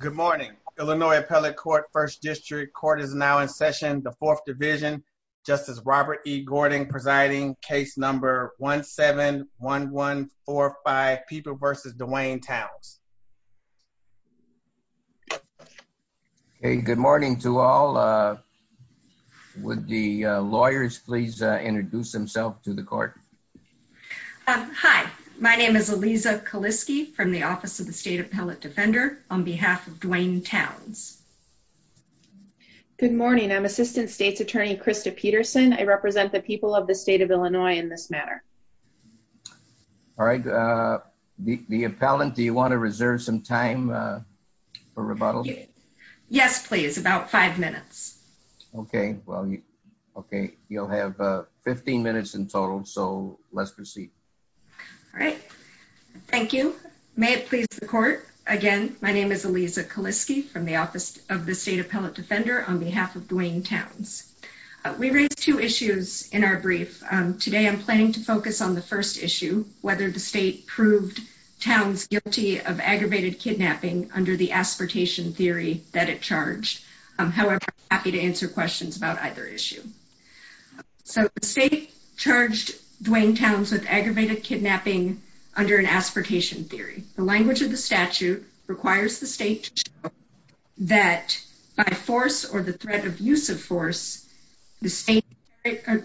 Good morning, Illinois Appellate Court, 1st District. Court is now in session, the 4th Division, Justice Robert E. Gordon presiding, case number 1-7-1145, Peeper v. Duane Towns. Good morning to all. Would the lawyers please introduce themselves to the court? Hi, my name is Aliza Kaliske from the Office of the State Appellate Defender on behalf of Duane Towns. Good morning, I'm Assistant State's Attorney Krista Peterson. I represent the people of the state of Illinois in this matter. Alright, the appellant, do you want to reserve some time for rebuttal? Yes, please, about 5 minutes. Okay, you'll have 15 minutes in total, so let's proceed. Alright, thank you. May it please the court, again, my name is Aliza Kaliske from the Office of the State Appellate Defender on behalf of Duane Towns. We raised two issues in our brief. Today, I'm planning to focus on the first issue, whether the state proved Towns guilty of aggravated kidnapping under the aspartation theory that it charged. However, I'm happy to answer questions about either issue. So the state charged Duane Towns with aggravated kidnapping under an aspartation theory. The language of the statute requires the state to show that by force or the threat of use of force, the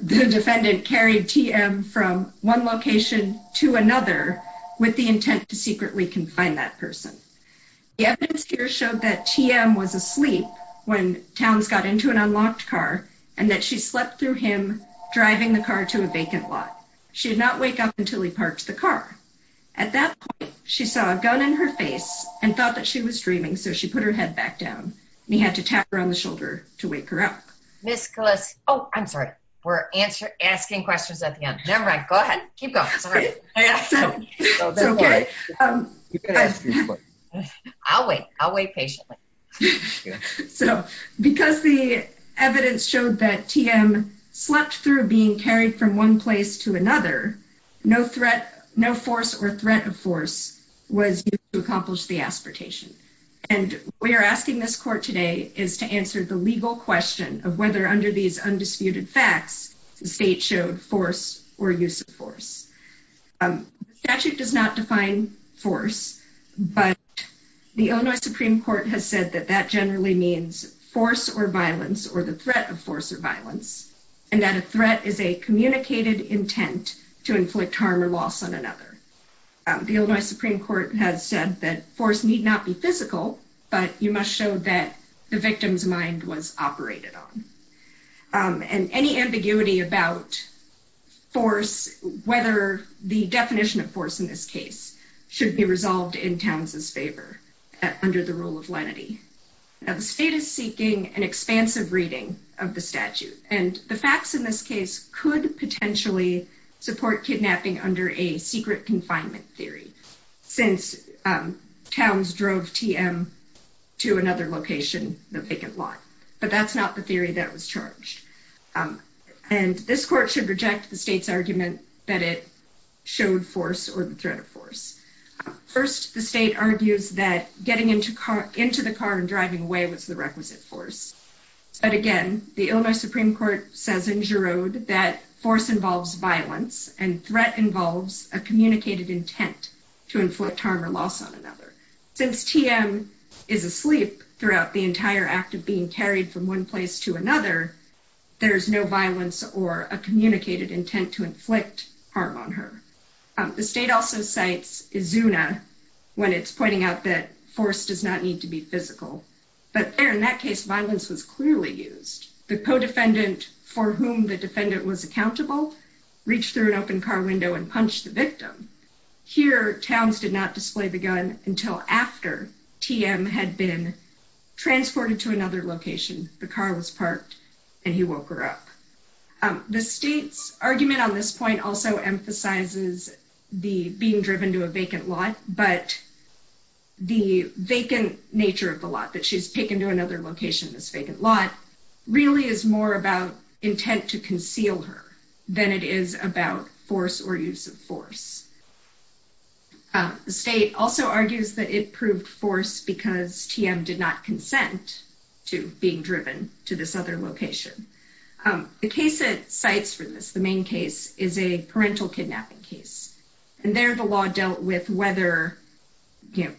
defendant carried TM from one location to another with the intent to secretly confine that person. The evidence here showed that TM was asleep when Towns got into an unlocked car and that she slept through him driving the car to a vacant lot. She did not wake up until he parked the car. At that point, she saw a gun in her face and thought that she was dreaming, so she put her head back down and he had to tap her on the shoulder to wake her up. Ms. Kaliske, oh, I'm sorry, we're asking questions at the end. Never mind, go ahead, keep going. I'll wait. I'll wait patiently. So because the evidence showed that TM slept through being carried from one place to another, no threat, no force or threat of force was used to accomplish the aspartation. And we are asking this court today is to answer the legal question of whether under these undisputed facts, the state showed force or use of force. The statute does not define force, but the Illinois Supreme Court has said that that generally means force or violence or the threat of force or violence, and that a threat is a communicated intent to inflict harm or loss on another. The Illinois Supreme Court has said that force need not be physical, but you must show that the victim's mind was operated on. And any ambiguity about force, whether the definition of force in this case should be resolved in Towns's favor under the rule of lenity. Now the state is seeking an expansive reading of the statute, and the facts in this case could potentially support kidnapping under a secret confinement theory, since Towns drove TM to another location, the vacant lot. But that's not the theory that was charged. And this court should reject the state's argument that it showed force or the threat of force. First, the state argues that getting into the car and driving away was the requisite force. But again, the Illinois Supreme Court says in Giroud that force involves violence and threat involves a communicated intent to inflict harm or loss on another. Since TM is asleep throughout the entire act of being carried from one place to another, there is no violence or a communicated intent to inflict harm on her. The state also cites Izuna when it's pointing out that force does not need to be physical. But there, in that case, violence was clearly used. The co-defendant, for whom the defendant was accountable, reached through an open car window and punched the victim. Here, Towns did not display the gun until after TM had been transported to another location. The car was parked and he woke her up. The state's argument on this point also emphasizes the being driven to a vacant lot. But the vacant nature of the lot, that she's taken to another location in this vacant lot, really is more about intent to conceal her than it is about force or use of force. The state also argues that it proved force because TM did not consent to being driven to this other location. The case it cites for this, the main case, is a parental kidnapping case. And there, the law dealt with whether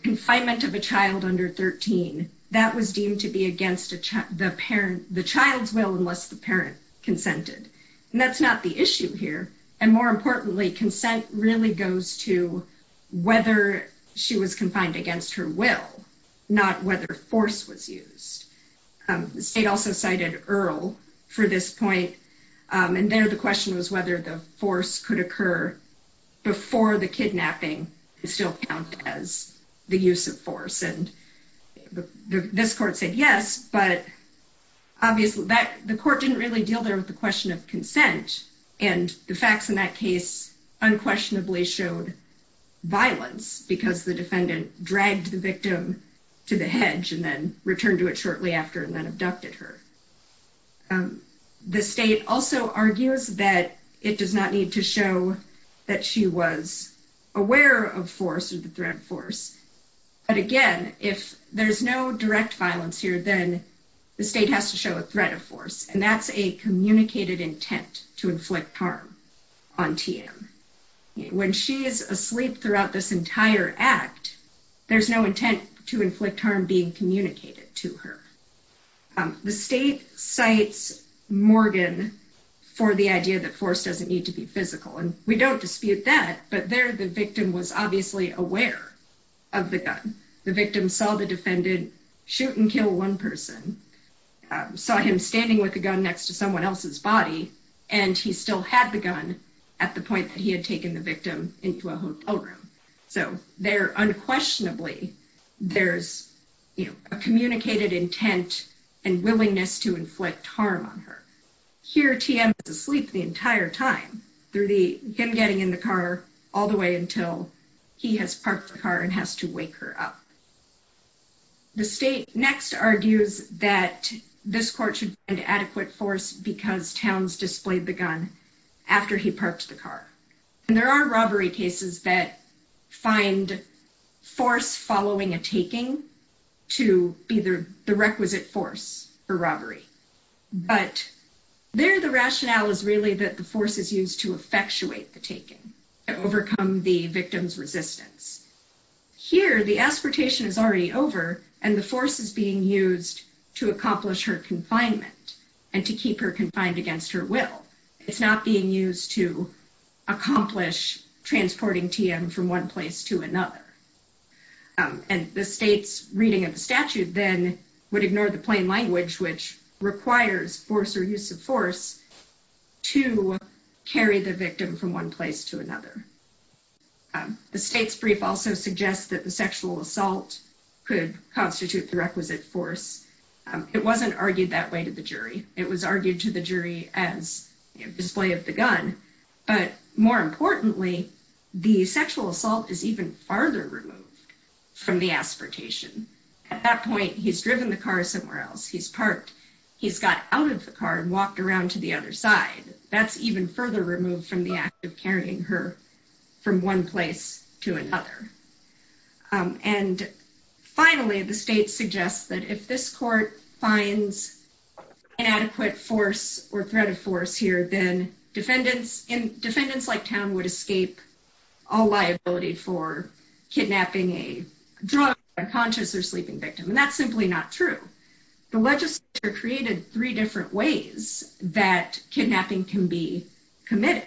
confinement of a child under 13, that was deemed to be against the child's will unless the parent consented. And that's not the issue here. And more importantly, consent really goes to whether she was confined against her will, not whether force was used. The state also cited Earl for this point. And there, the question was whether the force could occur before the kidnapping is still counted as the use of force. And this court said yes, but obviously the court didn't really deal there with the question of consent. And the facts in that case unquestionably showed violence because the defendant dragged the victim to the hedge and then returned to it shortly after and then abducted her. The state also argues that it does not need to show that she was aware of force or the threat of force. But again, if there's no direct violence here, then the state has to show a threat of force. And that's a communicated intent to inflict harm on TM. When she is asleep throughout this entire act, there's no intent to inflict harm being communicated to her. The state cites Morgan for the idea that force doesn't need to be physical. And we don't dispute that, but there the victim was obviously aware of the gun. The victim saw the defendant shoot and kill one person, saw him standing with a gun next to someone else's body, and he still had the gun at the point that he had taken the victim into a hotel room. So there unquestionably, there's a communicated intent and willingness to inflict harm on her. Here TM is asleep the entire time through him getting in the car all the way until he has parked the car and has to wake her up. The state next argues that this court should find adequate force because Towns displayed the gun after he parked the car. And there are robbery cases that find force following a taking to be the requisite force for robbery. But there the rationale is really that the force is used to effectuate the taking, to overcome the victim's resistance. Here the aspiration is already over and the force is being used to accomplish her confinement and to keep her confined against her will. It's not being used to accomplish transporting TM from one place to another. And the state's reading of the statute then would ignore the plain language which requires force or use of force to carry the victim from one place to another. The state's brief also suggests that the sexual assault could constitute the requisite force. It wasn't argued that way to the jury. It was argued to the jury as a display of the gun. But more importantly, the sexual assault is even farther removed from the aspiration. At that point, he's driven the car somewhere else. He's parked. He's got out of the car and walked around to the other side. That's even further removed from the act of carrying her from one place to another. And finally, the state suggests that if this court finds inadequate force or threat of force here, then defendants like TM would escape all liability for kidnapping a drunk, unconscious, or sleeping victim. And that's simply not true. The legislature created three different ways that kidnapping can be committed.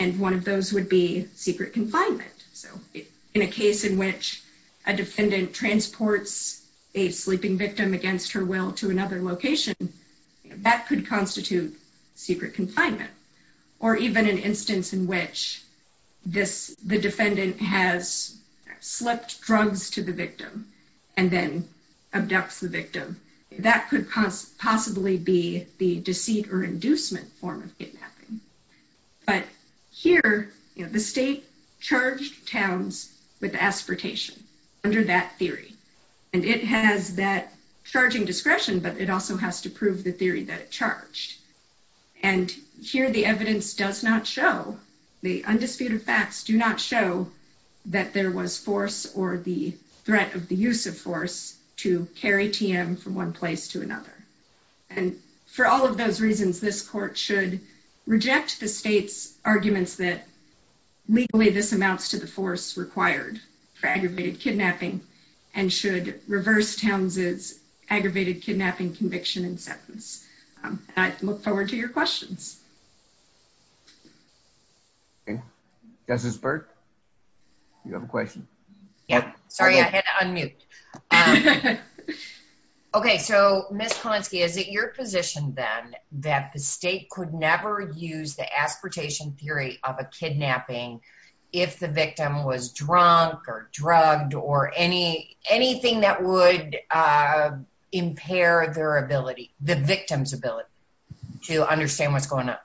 And one of those would be secret confinement. So in a case in which a defendant transports a sleeping victim against her will to another location, that could constitute secret confinement. Or even an instance in which the defendant has slipped drugs to the victim and then abducts the victim. That could possibly be the deceit or inducement form of kidnapping. But here, the state charged Towns with aspiratation under that theory. And it has that charging discretion, but it also has to prove the theory that it charged. And here the evidence does not show, the undisputed facts do not show that there was force or the threat of the use of force to carry TM from one place to another. And for all of those reasons, this court should reject the state's arguments that legally this amounts to the force required for aggravated kidnapping and should reverse Towns' aggravated kidnapping conviction and sentence. And I look forward to your questions. This is Bert. You have a question? Sorry, I had to unmute. Okay, so Ms. Konsky, is it your position then that the state could never use the aspiratation theory of a kidnapping if the victim was drunk or drugged or anything that would impair their ability, the victim's ability to understand what's going on?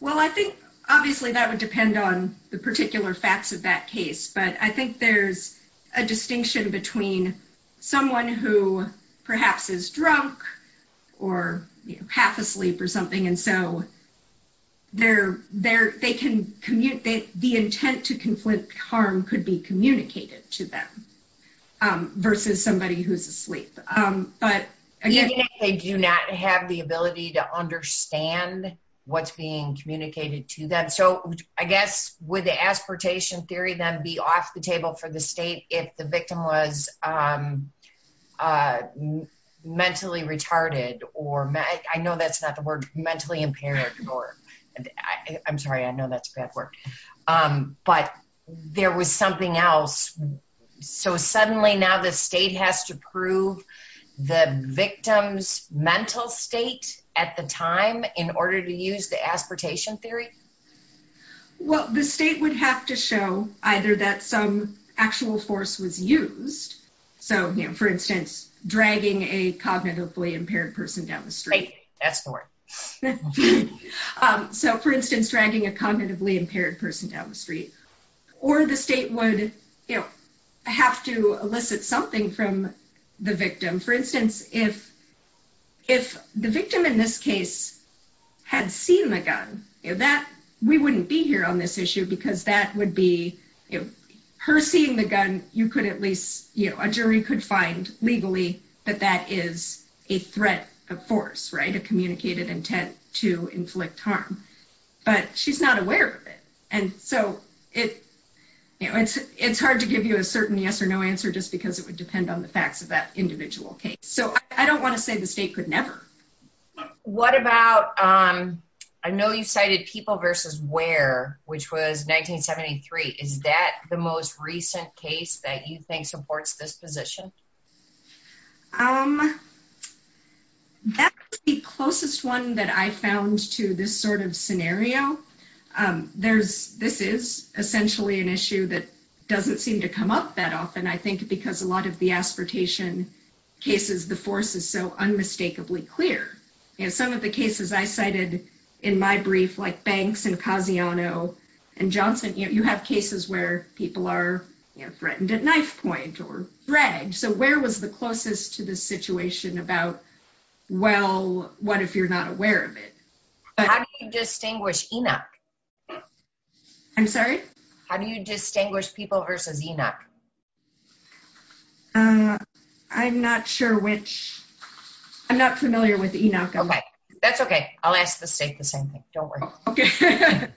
Well, I think obviously that would depend on the particular facts of that case. But I think there's a distinction between someone who perhaps is drunk or half asleep or something. And so the intent to conflict harm could be communicated to them versus somebody who's asleep. They do not have the ability to understand what's being communicated to them. So I guess with the aspiratation theory then be off the table for the state if the victim was mentally retarded or I know that's not the word, mentally impaired or I'm sorry, I know that's a bad word. But there was something else. So suddenly now the state has to prove the victim's mental state at the time in order to use the aspiratation theory? Well, the state would have to show either that some actual force was used. So for instance, dragging a cognitively impaired person down the street. That's the word. So for instance, dragging a cognitively impaired person down the street. Or the state would have to elicit something from the victim. For instance, if the victim in this case had seen the gun, we wouldn't be here on this issue because that would be, her seeing the gun, a jury could find legally that that is a threat of force, a communicated intent to inflict harm. But she's not aware of it. And so it's hard to give you a certain yes or no answer just because it would depend on the facts of that individual case. So I don't want to say the state could never. What about, I know you cited people versus where, which was 1973. Is that the most recent case that you think supports this position? That's the closest one that I found to this sort of scenario. This is essentially an issue that doesn't seem to come up that often, I think, because a lot of the aspiratation cases, the force is so unmistakably clear. Some of the cases I cited in my brief, like Banks and Casiano and Johnson, you have cases where people are threatened at knife point or dragged. So where was the closest to the situation about, well, what if you're not aware of it? How do you distinguish Enoch? I'm sorry? How do you distinguish people versus Enoch? I'm not sure which. I'm not familiar with Enoch. Okay. That's okay. I'll ask the state the same thing. Don't worry. Okay.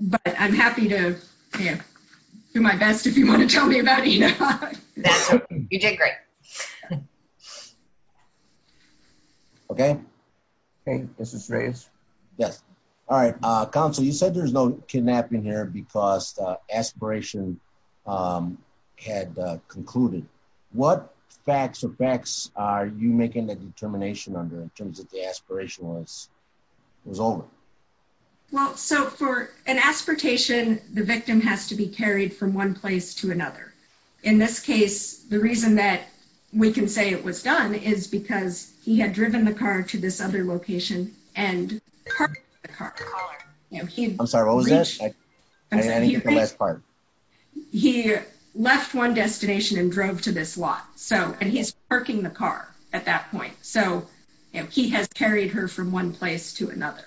But I'm happy to do my best if you want to tell me about Enoch. You did great. Okay. This is Reyes. Yes. All right. Counsel, you said there's no kidnapping here because aspiration had concluded. What facts or facts are you making the determination under in terms of the aspiration was over? Well, so for an aspiration, the victim has to be carried from one place to another. In this case, the reason that we can say it was done is because he had driven the car to this other location and parked the car. I'm sorry. What was that? He left one destination and drove to this lot. And he's parking the car at that point. So he has carried her from one place to another.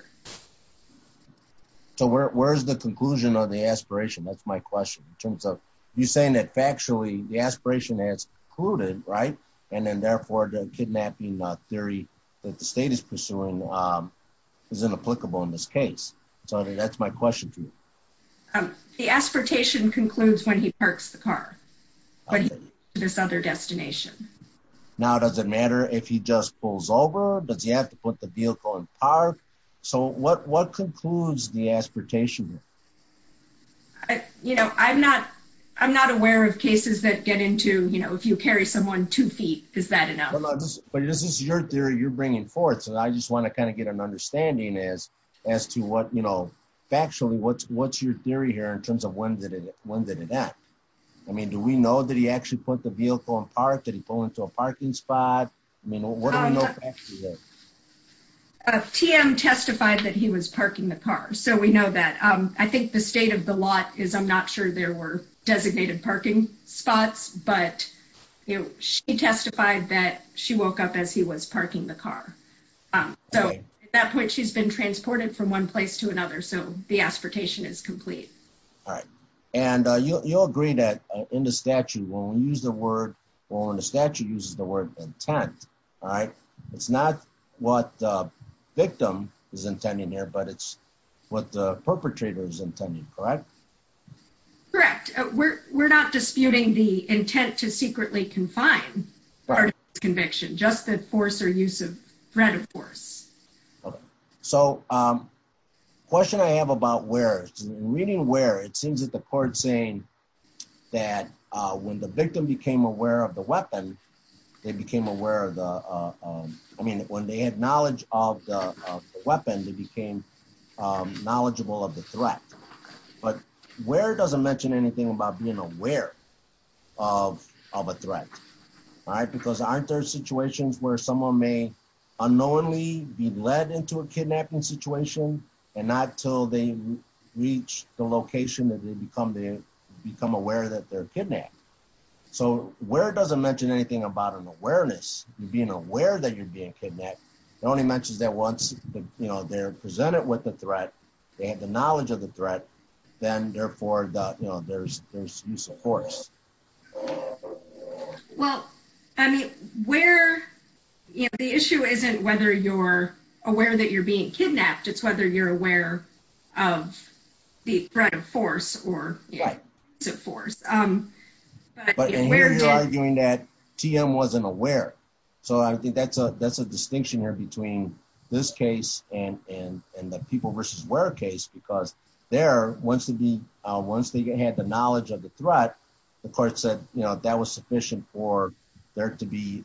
So where's the conclusion of the aspiration? That's my question. In terms of you saying that factually, the aspiration has concluded, right? And then, therefore, the kidnapping theory that the state is pursuing is inapplicable in this case. So that's my question to you. The aspiration concludes when he parks the car, when he goes to this other destination. Now, does it matter if he just pulls over? Does he have to put the vehicle in park? So what concludes the aspiration? I'm not aware of cases that get into, you know, if you carry someone two feet, is that enough? But this is your theory you're bringing forth. So I just want to kind of get an understanding as to what, you know, factually, what's your theory here in terms of when did it happen? I mean, do we know that he actually put the vehicle in park? Did he pull into a parking spot? I mean, what do we know factually? TM testified that he was parking the car, so we know that. I think the state of the lot is I'm not sure there were designated parking spots. But, you know, she testified that she woke up as he was parking the car. So at that point, she's been transported from one place to another. So the aspiration is complete. And you'll agree that in the statute, when we use the word, when the statute uses the word intent, right? It's not what the victim is intending here, but it's what the perpetrator is intending, correct? Correct. We're not disputing the intent to secretly confine our conviction, just the force or use of threat of force. So question I have about where reading where it seems that the court saying that when the victim became aware of the weapon, they became aware of the. I mean, when they had knowledge of the weapon, they became knowledgeable of the threat. But where does it mention anything about being aware of of a threat? All right, because aren't there situations where someone may unknowingly be led into a kidnapping situation and not till they reach the location that they become they become aware that they're kidnapped? So where it doesn't mention anything about an awareness, being aware that you're being kidnapped. It only mentions that once they're presented with the threat, they have the knowledge of the threat. Then, therefore, there's there's use of force. Well, I mean, where the issue isn't whether you're aware that you're being kidnapped, it's whether you're aware of the threat of force or force. But we're arguing that TM wasn't aware. So I think that's a that's a distinction here between this case and and and the people versus where case, because there wants to be once they get had the knowledge of the threat. The court said that was sufficient for there to be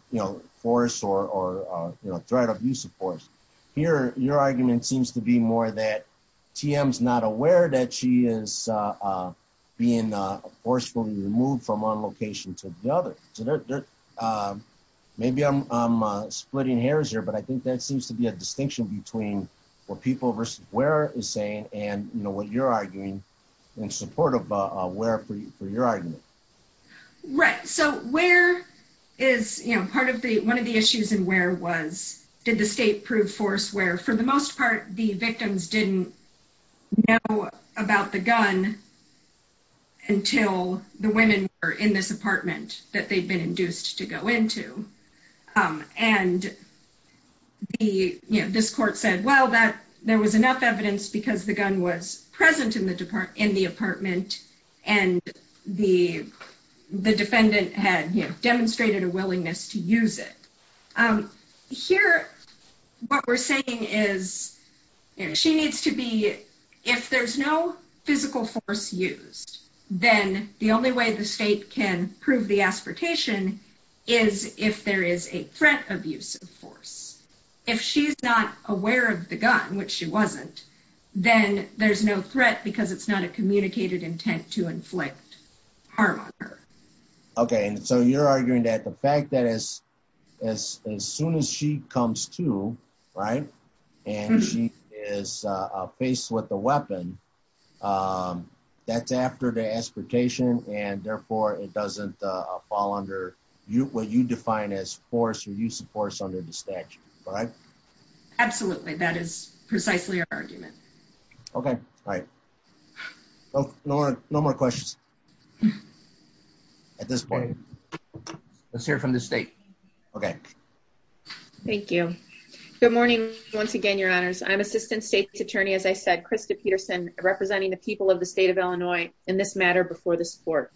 force or threat of use of force here. Your argument seems to be more that TM is not aware that she is being forcefully removed from one location to the other. Maybe I'm splitting hairs here, but I think that seems to be a distinction between what people versus where is saying and you know what you're arguing in support of where for your argument. Right. So where is, you know, part of the one of the issues and where was did the state prove force where for the most part, the victims didn't Know about the gun. Until the women are in this apartment that they've been induced to go into and The, you know, this court said, well, that there was enough evidence because the gun was present in the department in the apartment and the, the defendant had demonstrated a willingness to use it. Here, what we're saying is she needs to be if there's no physical force used, then the only way the state can prove the expectation is if there is a threat of use of force. If she's not aware of the gun, which she wasn't, then there's no threat because it's not a communicated intent to inflict harm. Okay. And so you're arguing that the fact that is as soon as she comes to right and she is faced with the weapon. That's after the expectation and therefore it doesn't fall under you what you define as force or use of force under the statute. Right. Absolutely. That is precisely our argument. Okay, right. Oh, no, no more questions. At this point, Let's hear from the state. Okay. Thank you. Good morning. Once again, your honors. I'm assistant state attorney. As I said, Krista Peterson representing the people of the state of Illinois in this matter before the sport.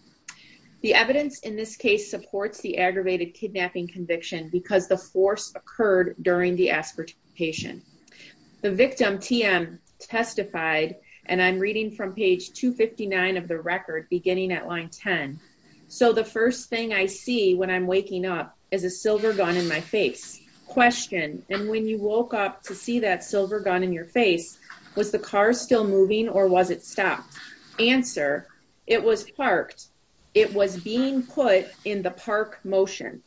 The evidence in this case supports the aggravated kidnapping conviction because the force occurred during the aspiration The victim TM testified and I'm reading from page 259 of the record beginning at line 10 So the first thing I see when I'm waking up as a silver gun in my face question. And when you woke up to see that silver gun in your face. Was the car still moving or was it stopped answer. It was parked. It was being put in the park motion.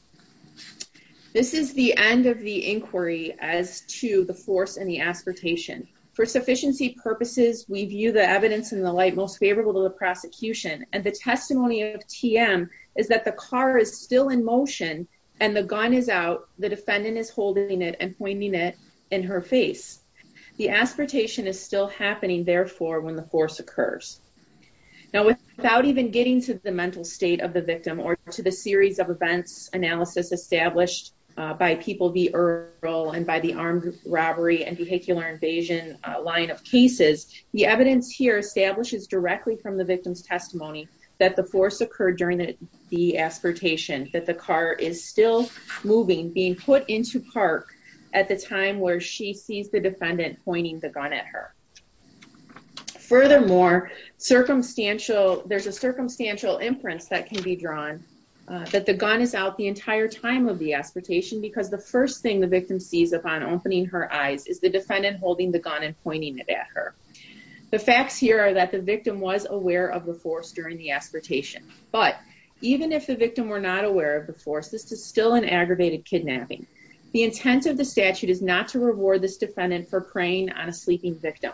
This is the end of the inquiry as to the force and the expectation for sufficiency purposes, we view the evidence in the light most favorable to the prosecution and the testimony of TM. Is that the car is still in motion and the gun is out the defendant is holding it and pointing it in her face. The expectation is still happening. Therefore, when the force occurs. Now, without even getting to the mental state of the victim or to the series of events analysis established by people. The role and by the armed robbery and vehicular invasion line of cases. The evidence here establishes directly from the victim's testimony that the force occurred during the aspiration that the car is still moving being put into park at the time where she sees the defendant pointing the gun at her. Furthermore, circumstantial. There's a circumstantial imprints that can be drawn that the gun is out the entire time of the expectation, because the first thing the victim sees upon opening her eyes is the defendant holding the gun and pointing it at her. The facts here are that the victim was aware of the force during the aspiration. But even if the victim were not aware of the force. This is still an aggravated kidnapping. The intent of the statute is not to reward this defendant for preying on a sleeping victim.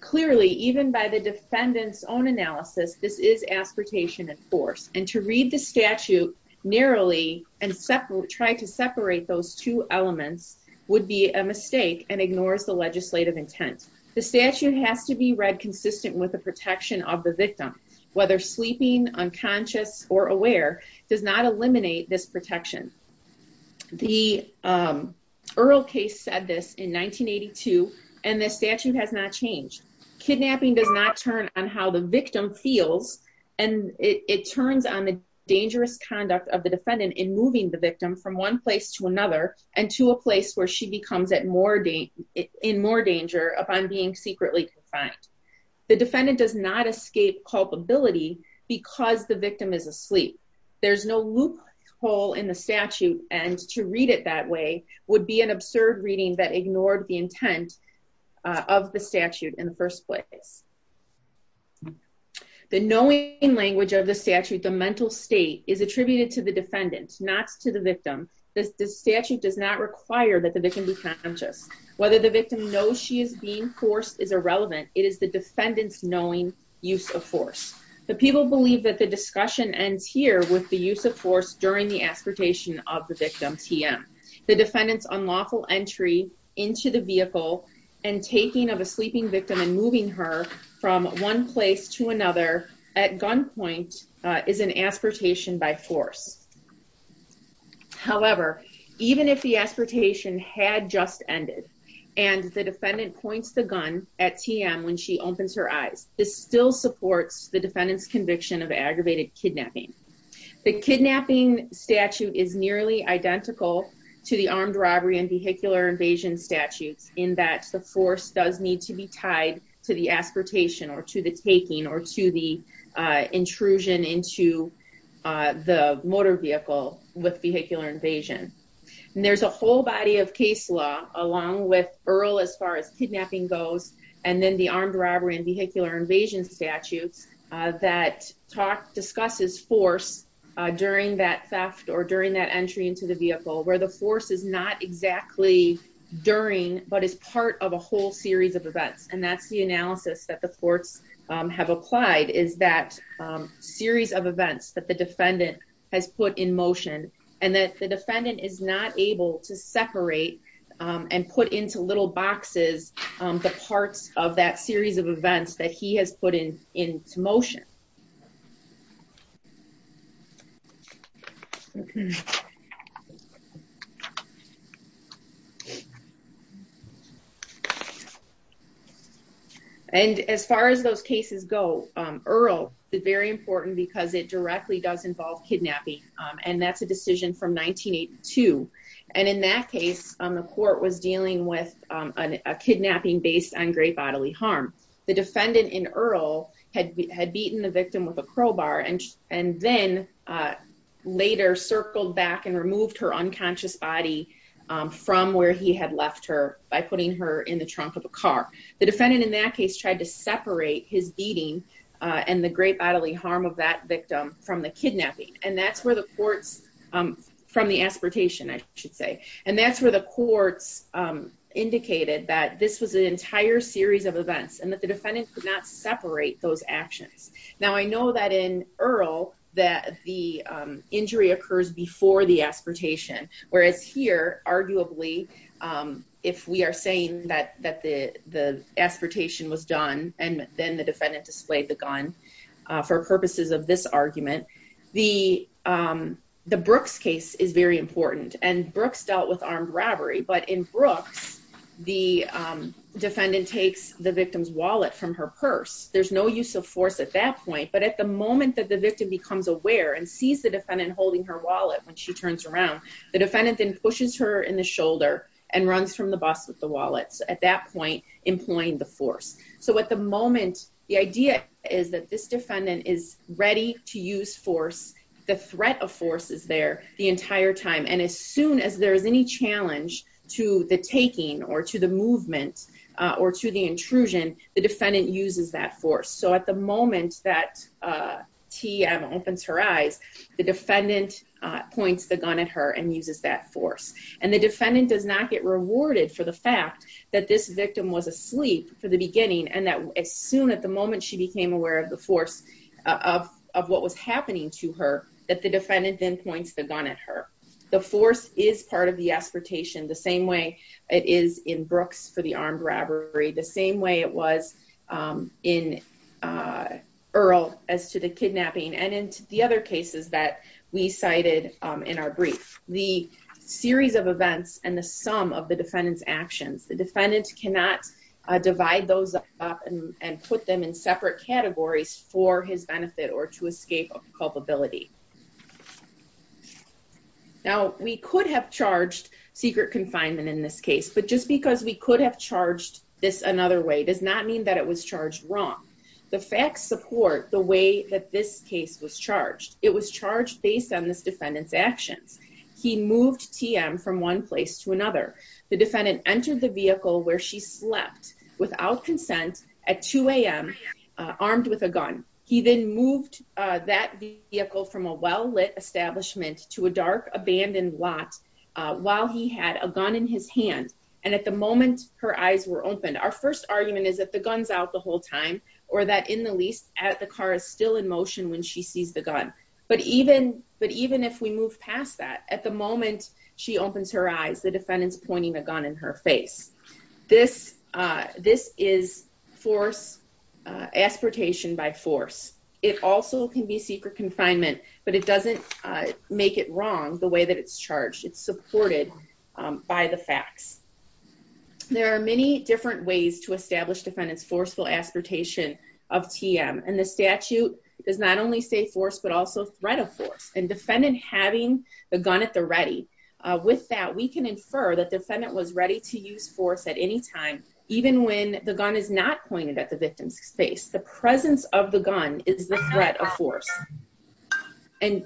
Clearly, even by the defendants own analysis. This is aspiration and force and to read the statute. Narrowly and separate try to separate those two elements would be a mistake and ignores the legislative intent. The statute has to be read consistent with the protection of the victim, whether sleeping unconscious or aware does not eliminate this protection. The Earl case said this in 1982 and the statute has not changed. Kidnapping does not turn on how the victim feels and it turns on the dangerous conduct of the defendant in moving the victim from one place to another and to a place where she becomes at more date in more danger upon being secretly confined. The defendant does not escape culpability because the victim is asleep. There's no loophole in the statute and to read it that way would be an absurd reading that ignored the intent of the statute in the first place. The knowing language of the statute, the mental state is attributed to the defendant, not to the victim. This statute does not require that the victim be conscious, whether the victim knows she is being forced is irrelevant. It is the defendants knowing use of force. The people believe that the discussion ends here with the use of force during the aspiration of the victim TM the defendants unlawful entry into the vehicle and taking of a sleeping victim and moving her from one place to another at gunpoint is an aspiration by force. However, even if the aspiration had just ended and the defendant points the gun at TM when she opens her eyes, this still supports the defendants conviction of aggravated kidnapping. The kidnapping statute is nearly identical to the armed robbery and vehicular invasion statutes in that the force does need to be tied to the aspiration or to the taking or to the intrusion into the motor vehicle with vehicular invasion. There's a whole body of case law, along with Earl as far as kidnapping goes, and then the armed robbery and vehicular invasion statutes that talk discusses force during that theft or during that entry into the vehicle where the force is not exactly during but is part of a whole series of events and that's the analysis that the courts have applied is that series of events that the defendant has put in motion. And that the defendant is not able to separate and put into little boxes, the parts of that series of events that he has put in into motion. And as far as those cases go, Earl is very important because it directly does involve kidnapping. And that's a decision from 1982. And in that case, the court was dealing with a kidnapping based on great bodily harm. The defendant in Earl had had beaten the victim with a crowbar and and then later circled back and removed her unconscious body from where he had left her by putting her in the trunk of a car. The defendant in that case tried to separate his beating and the great bodily harm of that victim from the kidnapping. And that's where the courts from the aspiratation, I should say, and that's where the courts indicated that this was an entire series of events and that the defendant could not separate those actions. Now, I know that in Earl that the injury occurs before the aspiratation, whereas here, arguably, if we are saying that the aspiratation was done and then the defendant displayed the gun for purposes of this argument, the Brooks case is very important. And Brooks dealt with armed robbery. But in Brooks, the defendant takes the victim's wallet from her purse. There's no use of force at that point. But at the moment that the victim becomes aware and sees the defendant holding her wallet when she turns around, the defendant then pushes her in the shoulder and runs from the bus with the wallet at that point, employing the force. So at the moment, the idea is that this defendant is ready to use force. The threat of force is there the entire time. And as soon as there is any challenge to the taking or to the movement or to the intrusion, the defendant uses that force. So at the moment that TM opens her eyes, the defendant points the gun at her and uses that force. And the defendant does not get rewarded for the fact that this victim was asleep for the beginning and that as soon at the moment she became aware of the force of what was happening to her, that the defendant then points the gun at her. The force is part of the aspiration the same way it is in Brooks for the armed robbery, the same way it was in Earl as to the kidnapping and into the other cases that we cited in our brief. The series of events and the sum of the defendant's actions, the defendant cannot divide those up and put them in separate categories for his benefit or to escape culpability. Now, we could have charged secret confinement in this case, but just because we could have charged this another way does not mean that it was charged wrong. The facts support the way that this case was charged. It was charged based on this defendant's actions. And so, I'm going to move on to the next case. This is a case where the defendant is in a car and she sees a gun in her hands. He moves TM from one place to another. The defendant entered the vehicle where she slept without consent at 2 a.m. armed with a gun. He then moved that vehicle from a well-lit establishment to a dark, abandoned lot while he had a gun in his hand. And at the moment, her eyes were opened. Our first argument is that the gun's out the whole time or that in the least, the car is still in motion when she sees the gun. But even if we move past that, at the moment she opens her eyes, the defendant's pointing a gun in her face. This is force, aspiration by force. It also can be secret confinement, but it doesn't make it wrong the way that it's charged. It's supported by the facts. There are many different ways to establish defendant's forceful aspiration of TM. And the statute does not only say force, but also threat of force. And defendant having the gun at the ready, with that, we can infer that defendant was ready to use force at any time, even when the gun is not pointed at the victim's face. The presence of the gun is the threat of force. And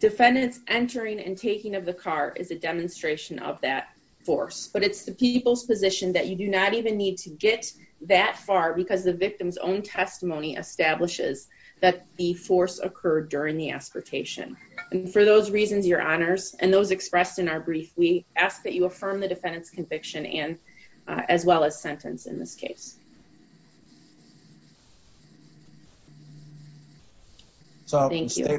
defendant's entering and taking of the car is a demonstration of that force. But it's the people's position that you do not even need to get that far because the victim's own testimony establishes that the force occurred during the aspiration. And for those reasons, Your Honors, and those expressed in our brief, we ask that you affirm the defendant's conviction as well as sentence in this case. Thank you. There may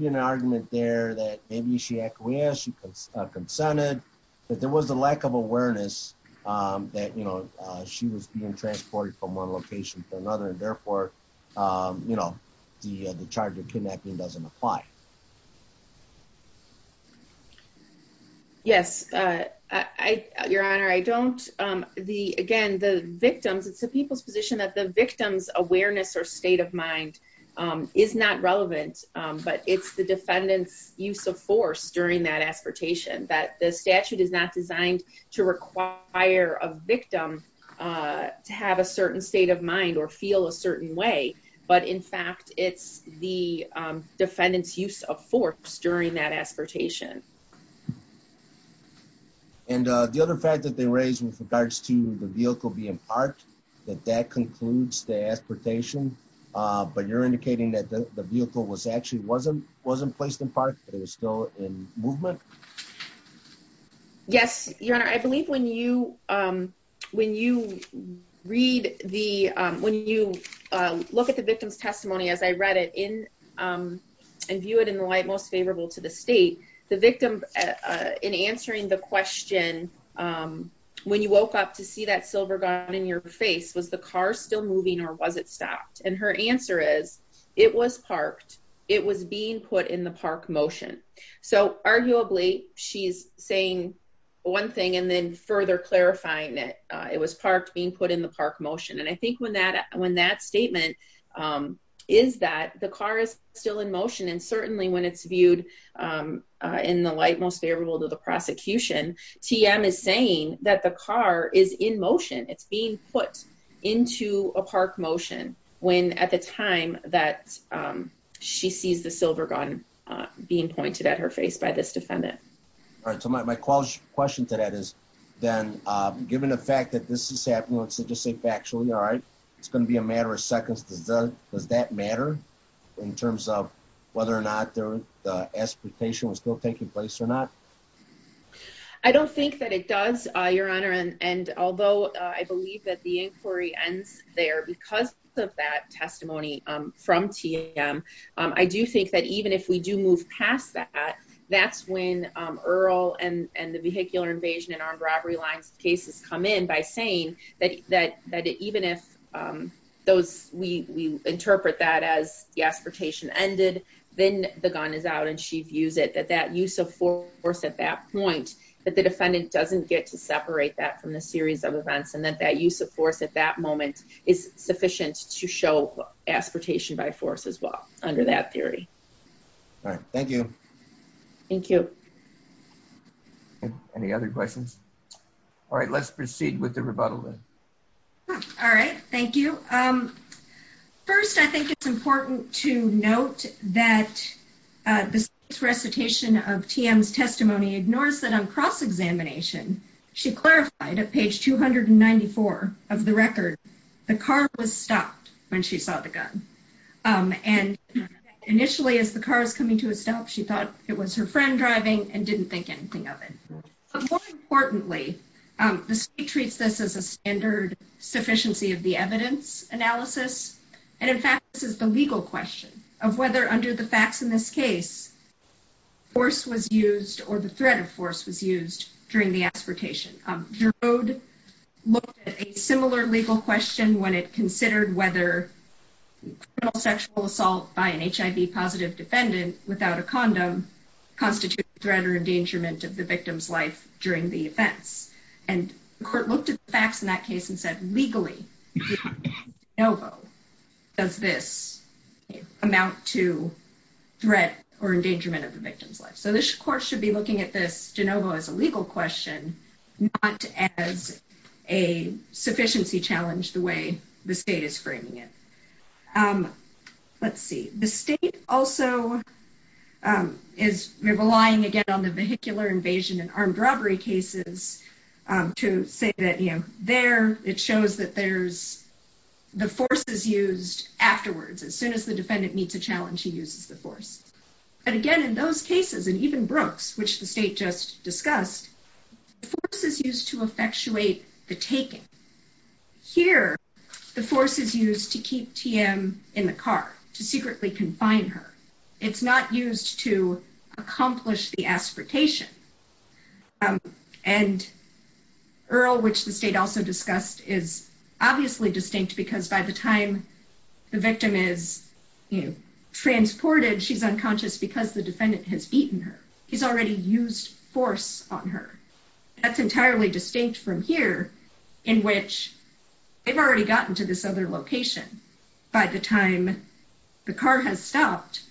be an argument there that maybe she acquiesced, she consented, but there was a lack of awareness that, you know, she was being transported from one location to another. And therefore, you know, the charge of kidnapping doesn't apply. Yes, Your Honor, I don't, the, again, the victims, it's the people's position that the victim's awareness or state of mind is not relevant. But it's the defendant's use of force during that aspiration, that the statute is not designed to require a victim to have a certain state of mind or feel a certain way. But in fact, it's the defendant's use of force during that aspiration. And the other fact that they raised with regards to the vehicle being parked, that that concludes the aspiration, but you're indicating that the vehicle was actually, wasn't placed in park, but it was still in movement? Yes, Your Honor, I believe when you, when you read the, when you look at the victim's testimony, as I read it in and view it in the light most favorable to the state, the victim, in answering the question, when you woke up to see that silver gun in your face, was the car still moving or was it stopped? And her answer is it was parked. It was being put in the park motion. So arguably she's saying one thing and then further clarifying it. It was parked, being put in the park motion. And I think when that, when that statement is that the car is still in motion, and certainly when it's viewed in the light most favorable to the prosecution, TM is saying that the car is in motion. It's being put into a park motion when at the time that she sees the silver gun being pointed at her face by this defendant. All right. So my question to that is then given the fact that this is happening, let's just say factually, all right, it's going to be a matter of seconds. Does that matter in terms of whether or not their expectation was still taking place or not? I don't think that it does, Your Honor. And although I believe that the inquiry ends there because of that testimony from TM, I do think that even if we do move past that, that's when Earl and the vehicular invasion and armed robbery lines cases come in by saying that even if those, we interpret that as the expectation ended, then the gun is out. So I think it's important that when she views it, that that use of force at that point, that the defendant doesn't get to separate that from the series of events and that that use of force at that moment is sufficient to show aspiratation by force as well under that theory. All right. Thank you. Thank you. Any other questions? All right, let's proceed with the rebuttal then. All right. Thank you. First, I think it's important to note that this recitation of TM's testimony ignores that on cross-examination, she clarified at page 294 of the record, the car was stopped when she saw the gun. And initially as the car is coming to a stop, she thought it was her friend driving and didn't think anything of it. But more importantly, the state treats this as a standard sufficiency of the evidence analysis. And in fact, this is the legal question of whether under the facts in this case, force was used or the threat of force was used during the aspiration. Giroud looked at a similar legal question when it considered whether sexual assault by an HIV positive defendant without a condom constitute threat or endangerment of the victim's life during the offense. And the court looked at the facts in that case and said, legally, does this amount to threat or endangerment of the victim's life? So this court should be looking at this, Genova, as a legal question, not as a sufficiency challenge the way the state is framing it. Let's see. The state also is relying again on the vehicular invasion and armed robbery cases to say that, you know, there it shows that there's the force is used afterwards. As soon as the defendant meets a challenge, he uses the force. But again, in those cases, and even Brooks, which the state just discussed, force is used to effectuate the taking. Here, the force is used to keep TM in the car, to secretly confine her. It's not used to accomplish the aspiration. And Earl, which the state also discussed, is obviously distinct because by the time the victim is transported, she's unconscious because the defendant has beaten her. He's already used force on her. That's entirely distinct from here, in which they've already gotten to this other location by the time the car has stopped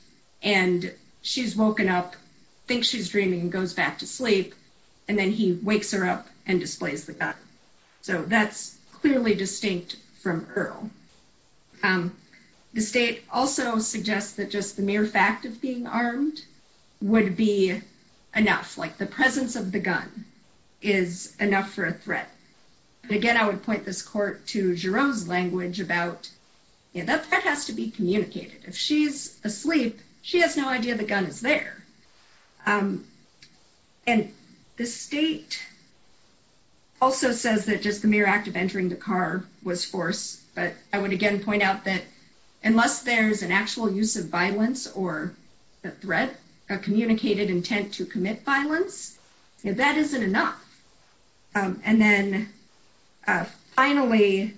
and she's woken up, thinks she's dreaming and goes back to sleep. And then he wakes her up and displays the gun. So that's clearly distinct from Earl. The state also suggests that just the mere fact of being armed would be enough. Like the presence of the gun is enough for a threat. And again, I would point this court to Jerome's language about that that has to be communicated. If she's asleep, she has no idea the gun is there. And the state also says that just the mere act of entering the car was force. But I would again point out that unless there's an actual use of violence or a threat, a communicated intent to commit violence, that isn't enough. And then finally,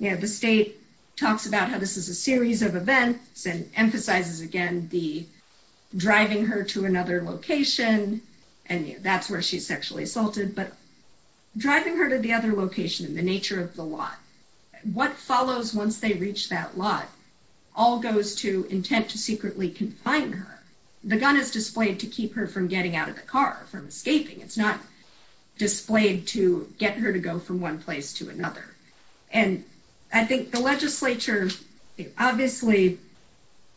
the state talks about how this is a series of events and emphasizes again the driving her to another location. And that's where she's sexually assaulted. But driving her to the other location and the nature of the lot, what follows once they reach that lot, all goes to intent to secretly confine her. The gun is displayed to keep her from getting out of the car, from escaping. It's not displayed to get her to go from one place to another. And I think the legislature obviously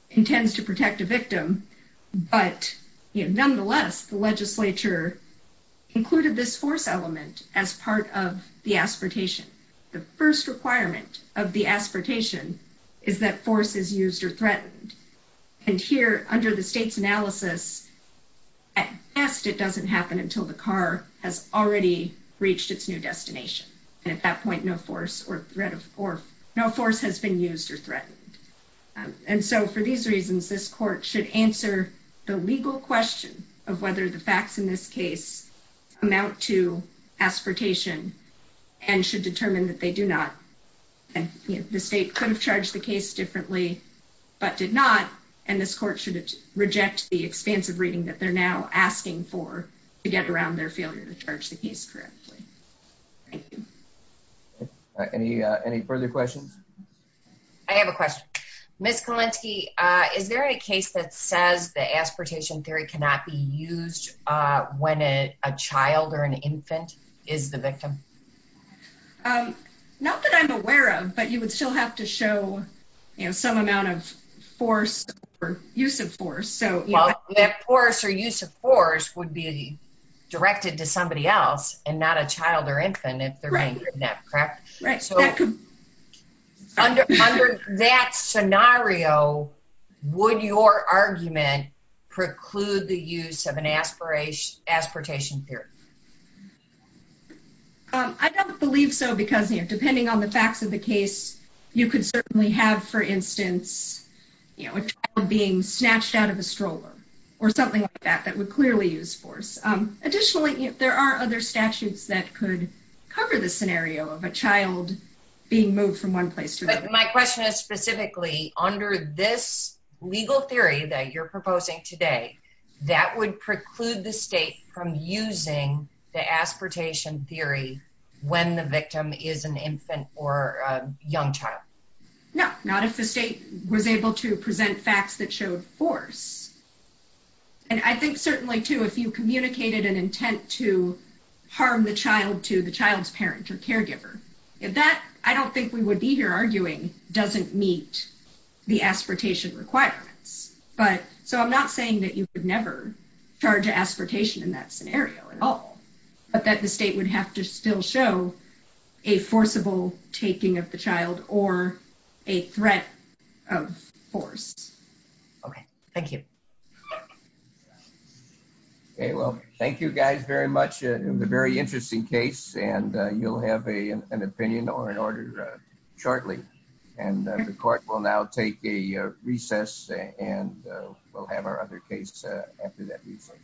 intends to protect a victim. But nonetheless, the legislature included this force element as part of the aspiratation. The first requirement of the aspiratation is that force is used or threatened. And here, under the state's analysis, at best it doesn't happen until the car has already reached its new destination. And at that point, no force has been used or threatened. And so for these reasons, this court should answer the legal question of whether the facts in this case amount to aspiratation and should determine that they do not. The state could have charged the case differently but did not. And this court should reject the expansive reading that they're now asking for to get around their failure to charge the case correctly. Thank you. Any further questions? I have a question. Ms. Kalinsky, is there a case that says the aspiratation theory cannot be used when a child or an infant is the victim? Not that I'm aware of, but you would still have to show some amount of force or use of force. Well, that force or use of force would be directed to somebody else and not a child or infant if they're being kidnapped, correct? Right. Under that scenario, would your argument preclude the use of an aspiratation theory? I don't believe so because depending on the facts of the case, you could certainly have, for instance, a child being snatched out of a stroller or something like that that would clearly use force. Additionally, there are other statutes that could cover the scenario of a child being moved from one place to another. My question is specifically, under this legal theory that you're proposing today, that would preclude the state from using the aspiratation theory when the victim is an infant or a young child? No, not if the state was able to present facts that showed force. I think certainly, too, if you communicated an intent to harm the child to the child's parent or caregiver, if that, I don't think we would be here arguing, doesn't meet the aspiratation requirements. I'm not saying that you could never charge aspiratation in that scenario at all, but that the state would have to still show a forcible taking of the child or a threat of force. Okay, thank you. Okay, well, thank you guys very much. It was a very interesting case, and you'll have an opinion or an order shortly. And the court will now take a recess, and we'll have our other case after that recess.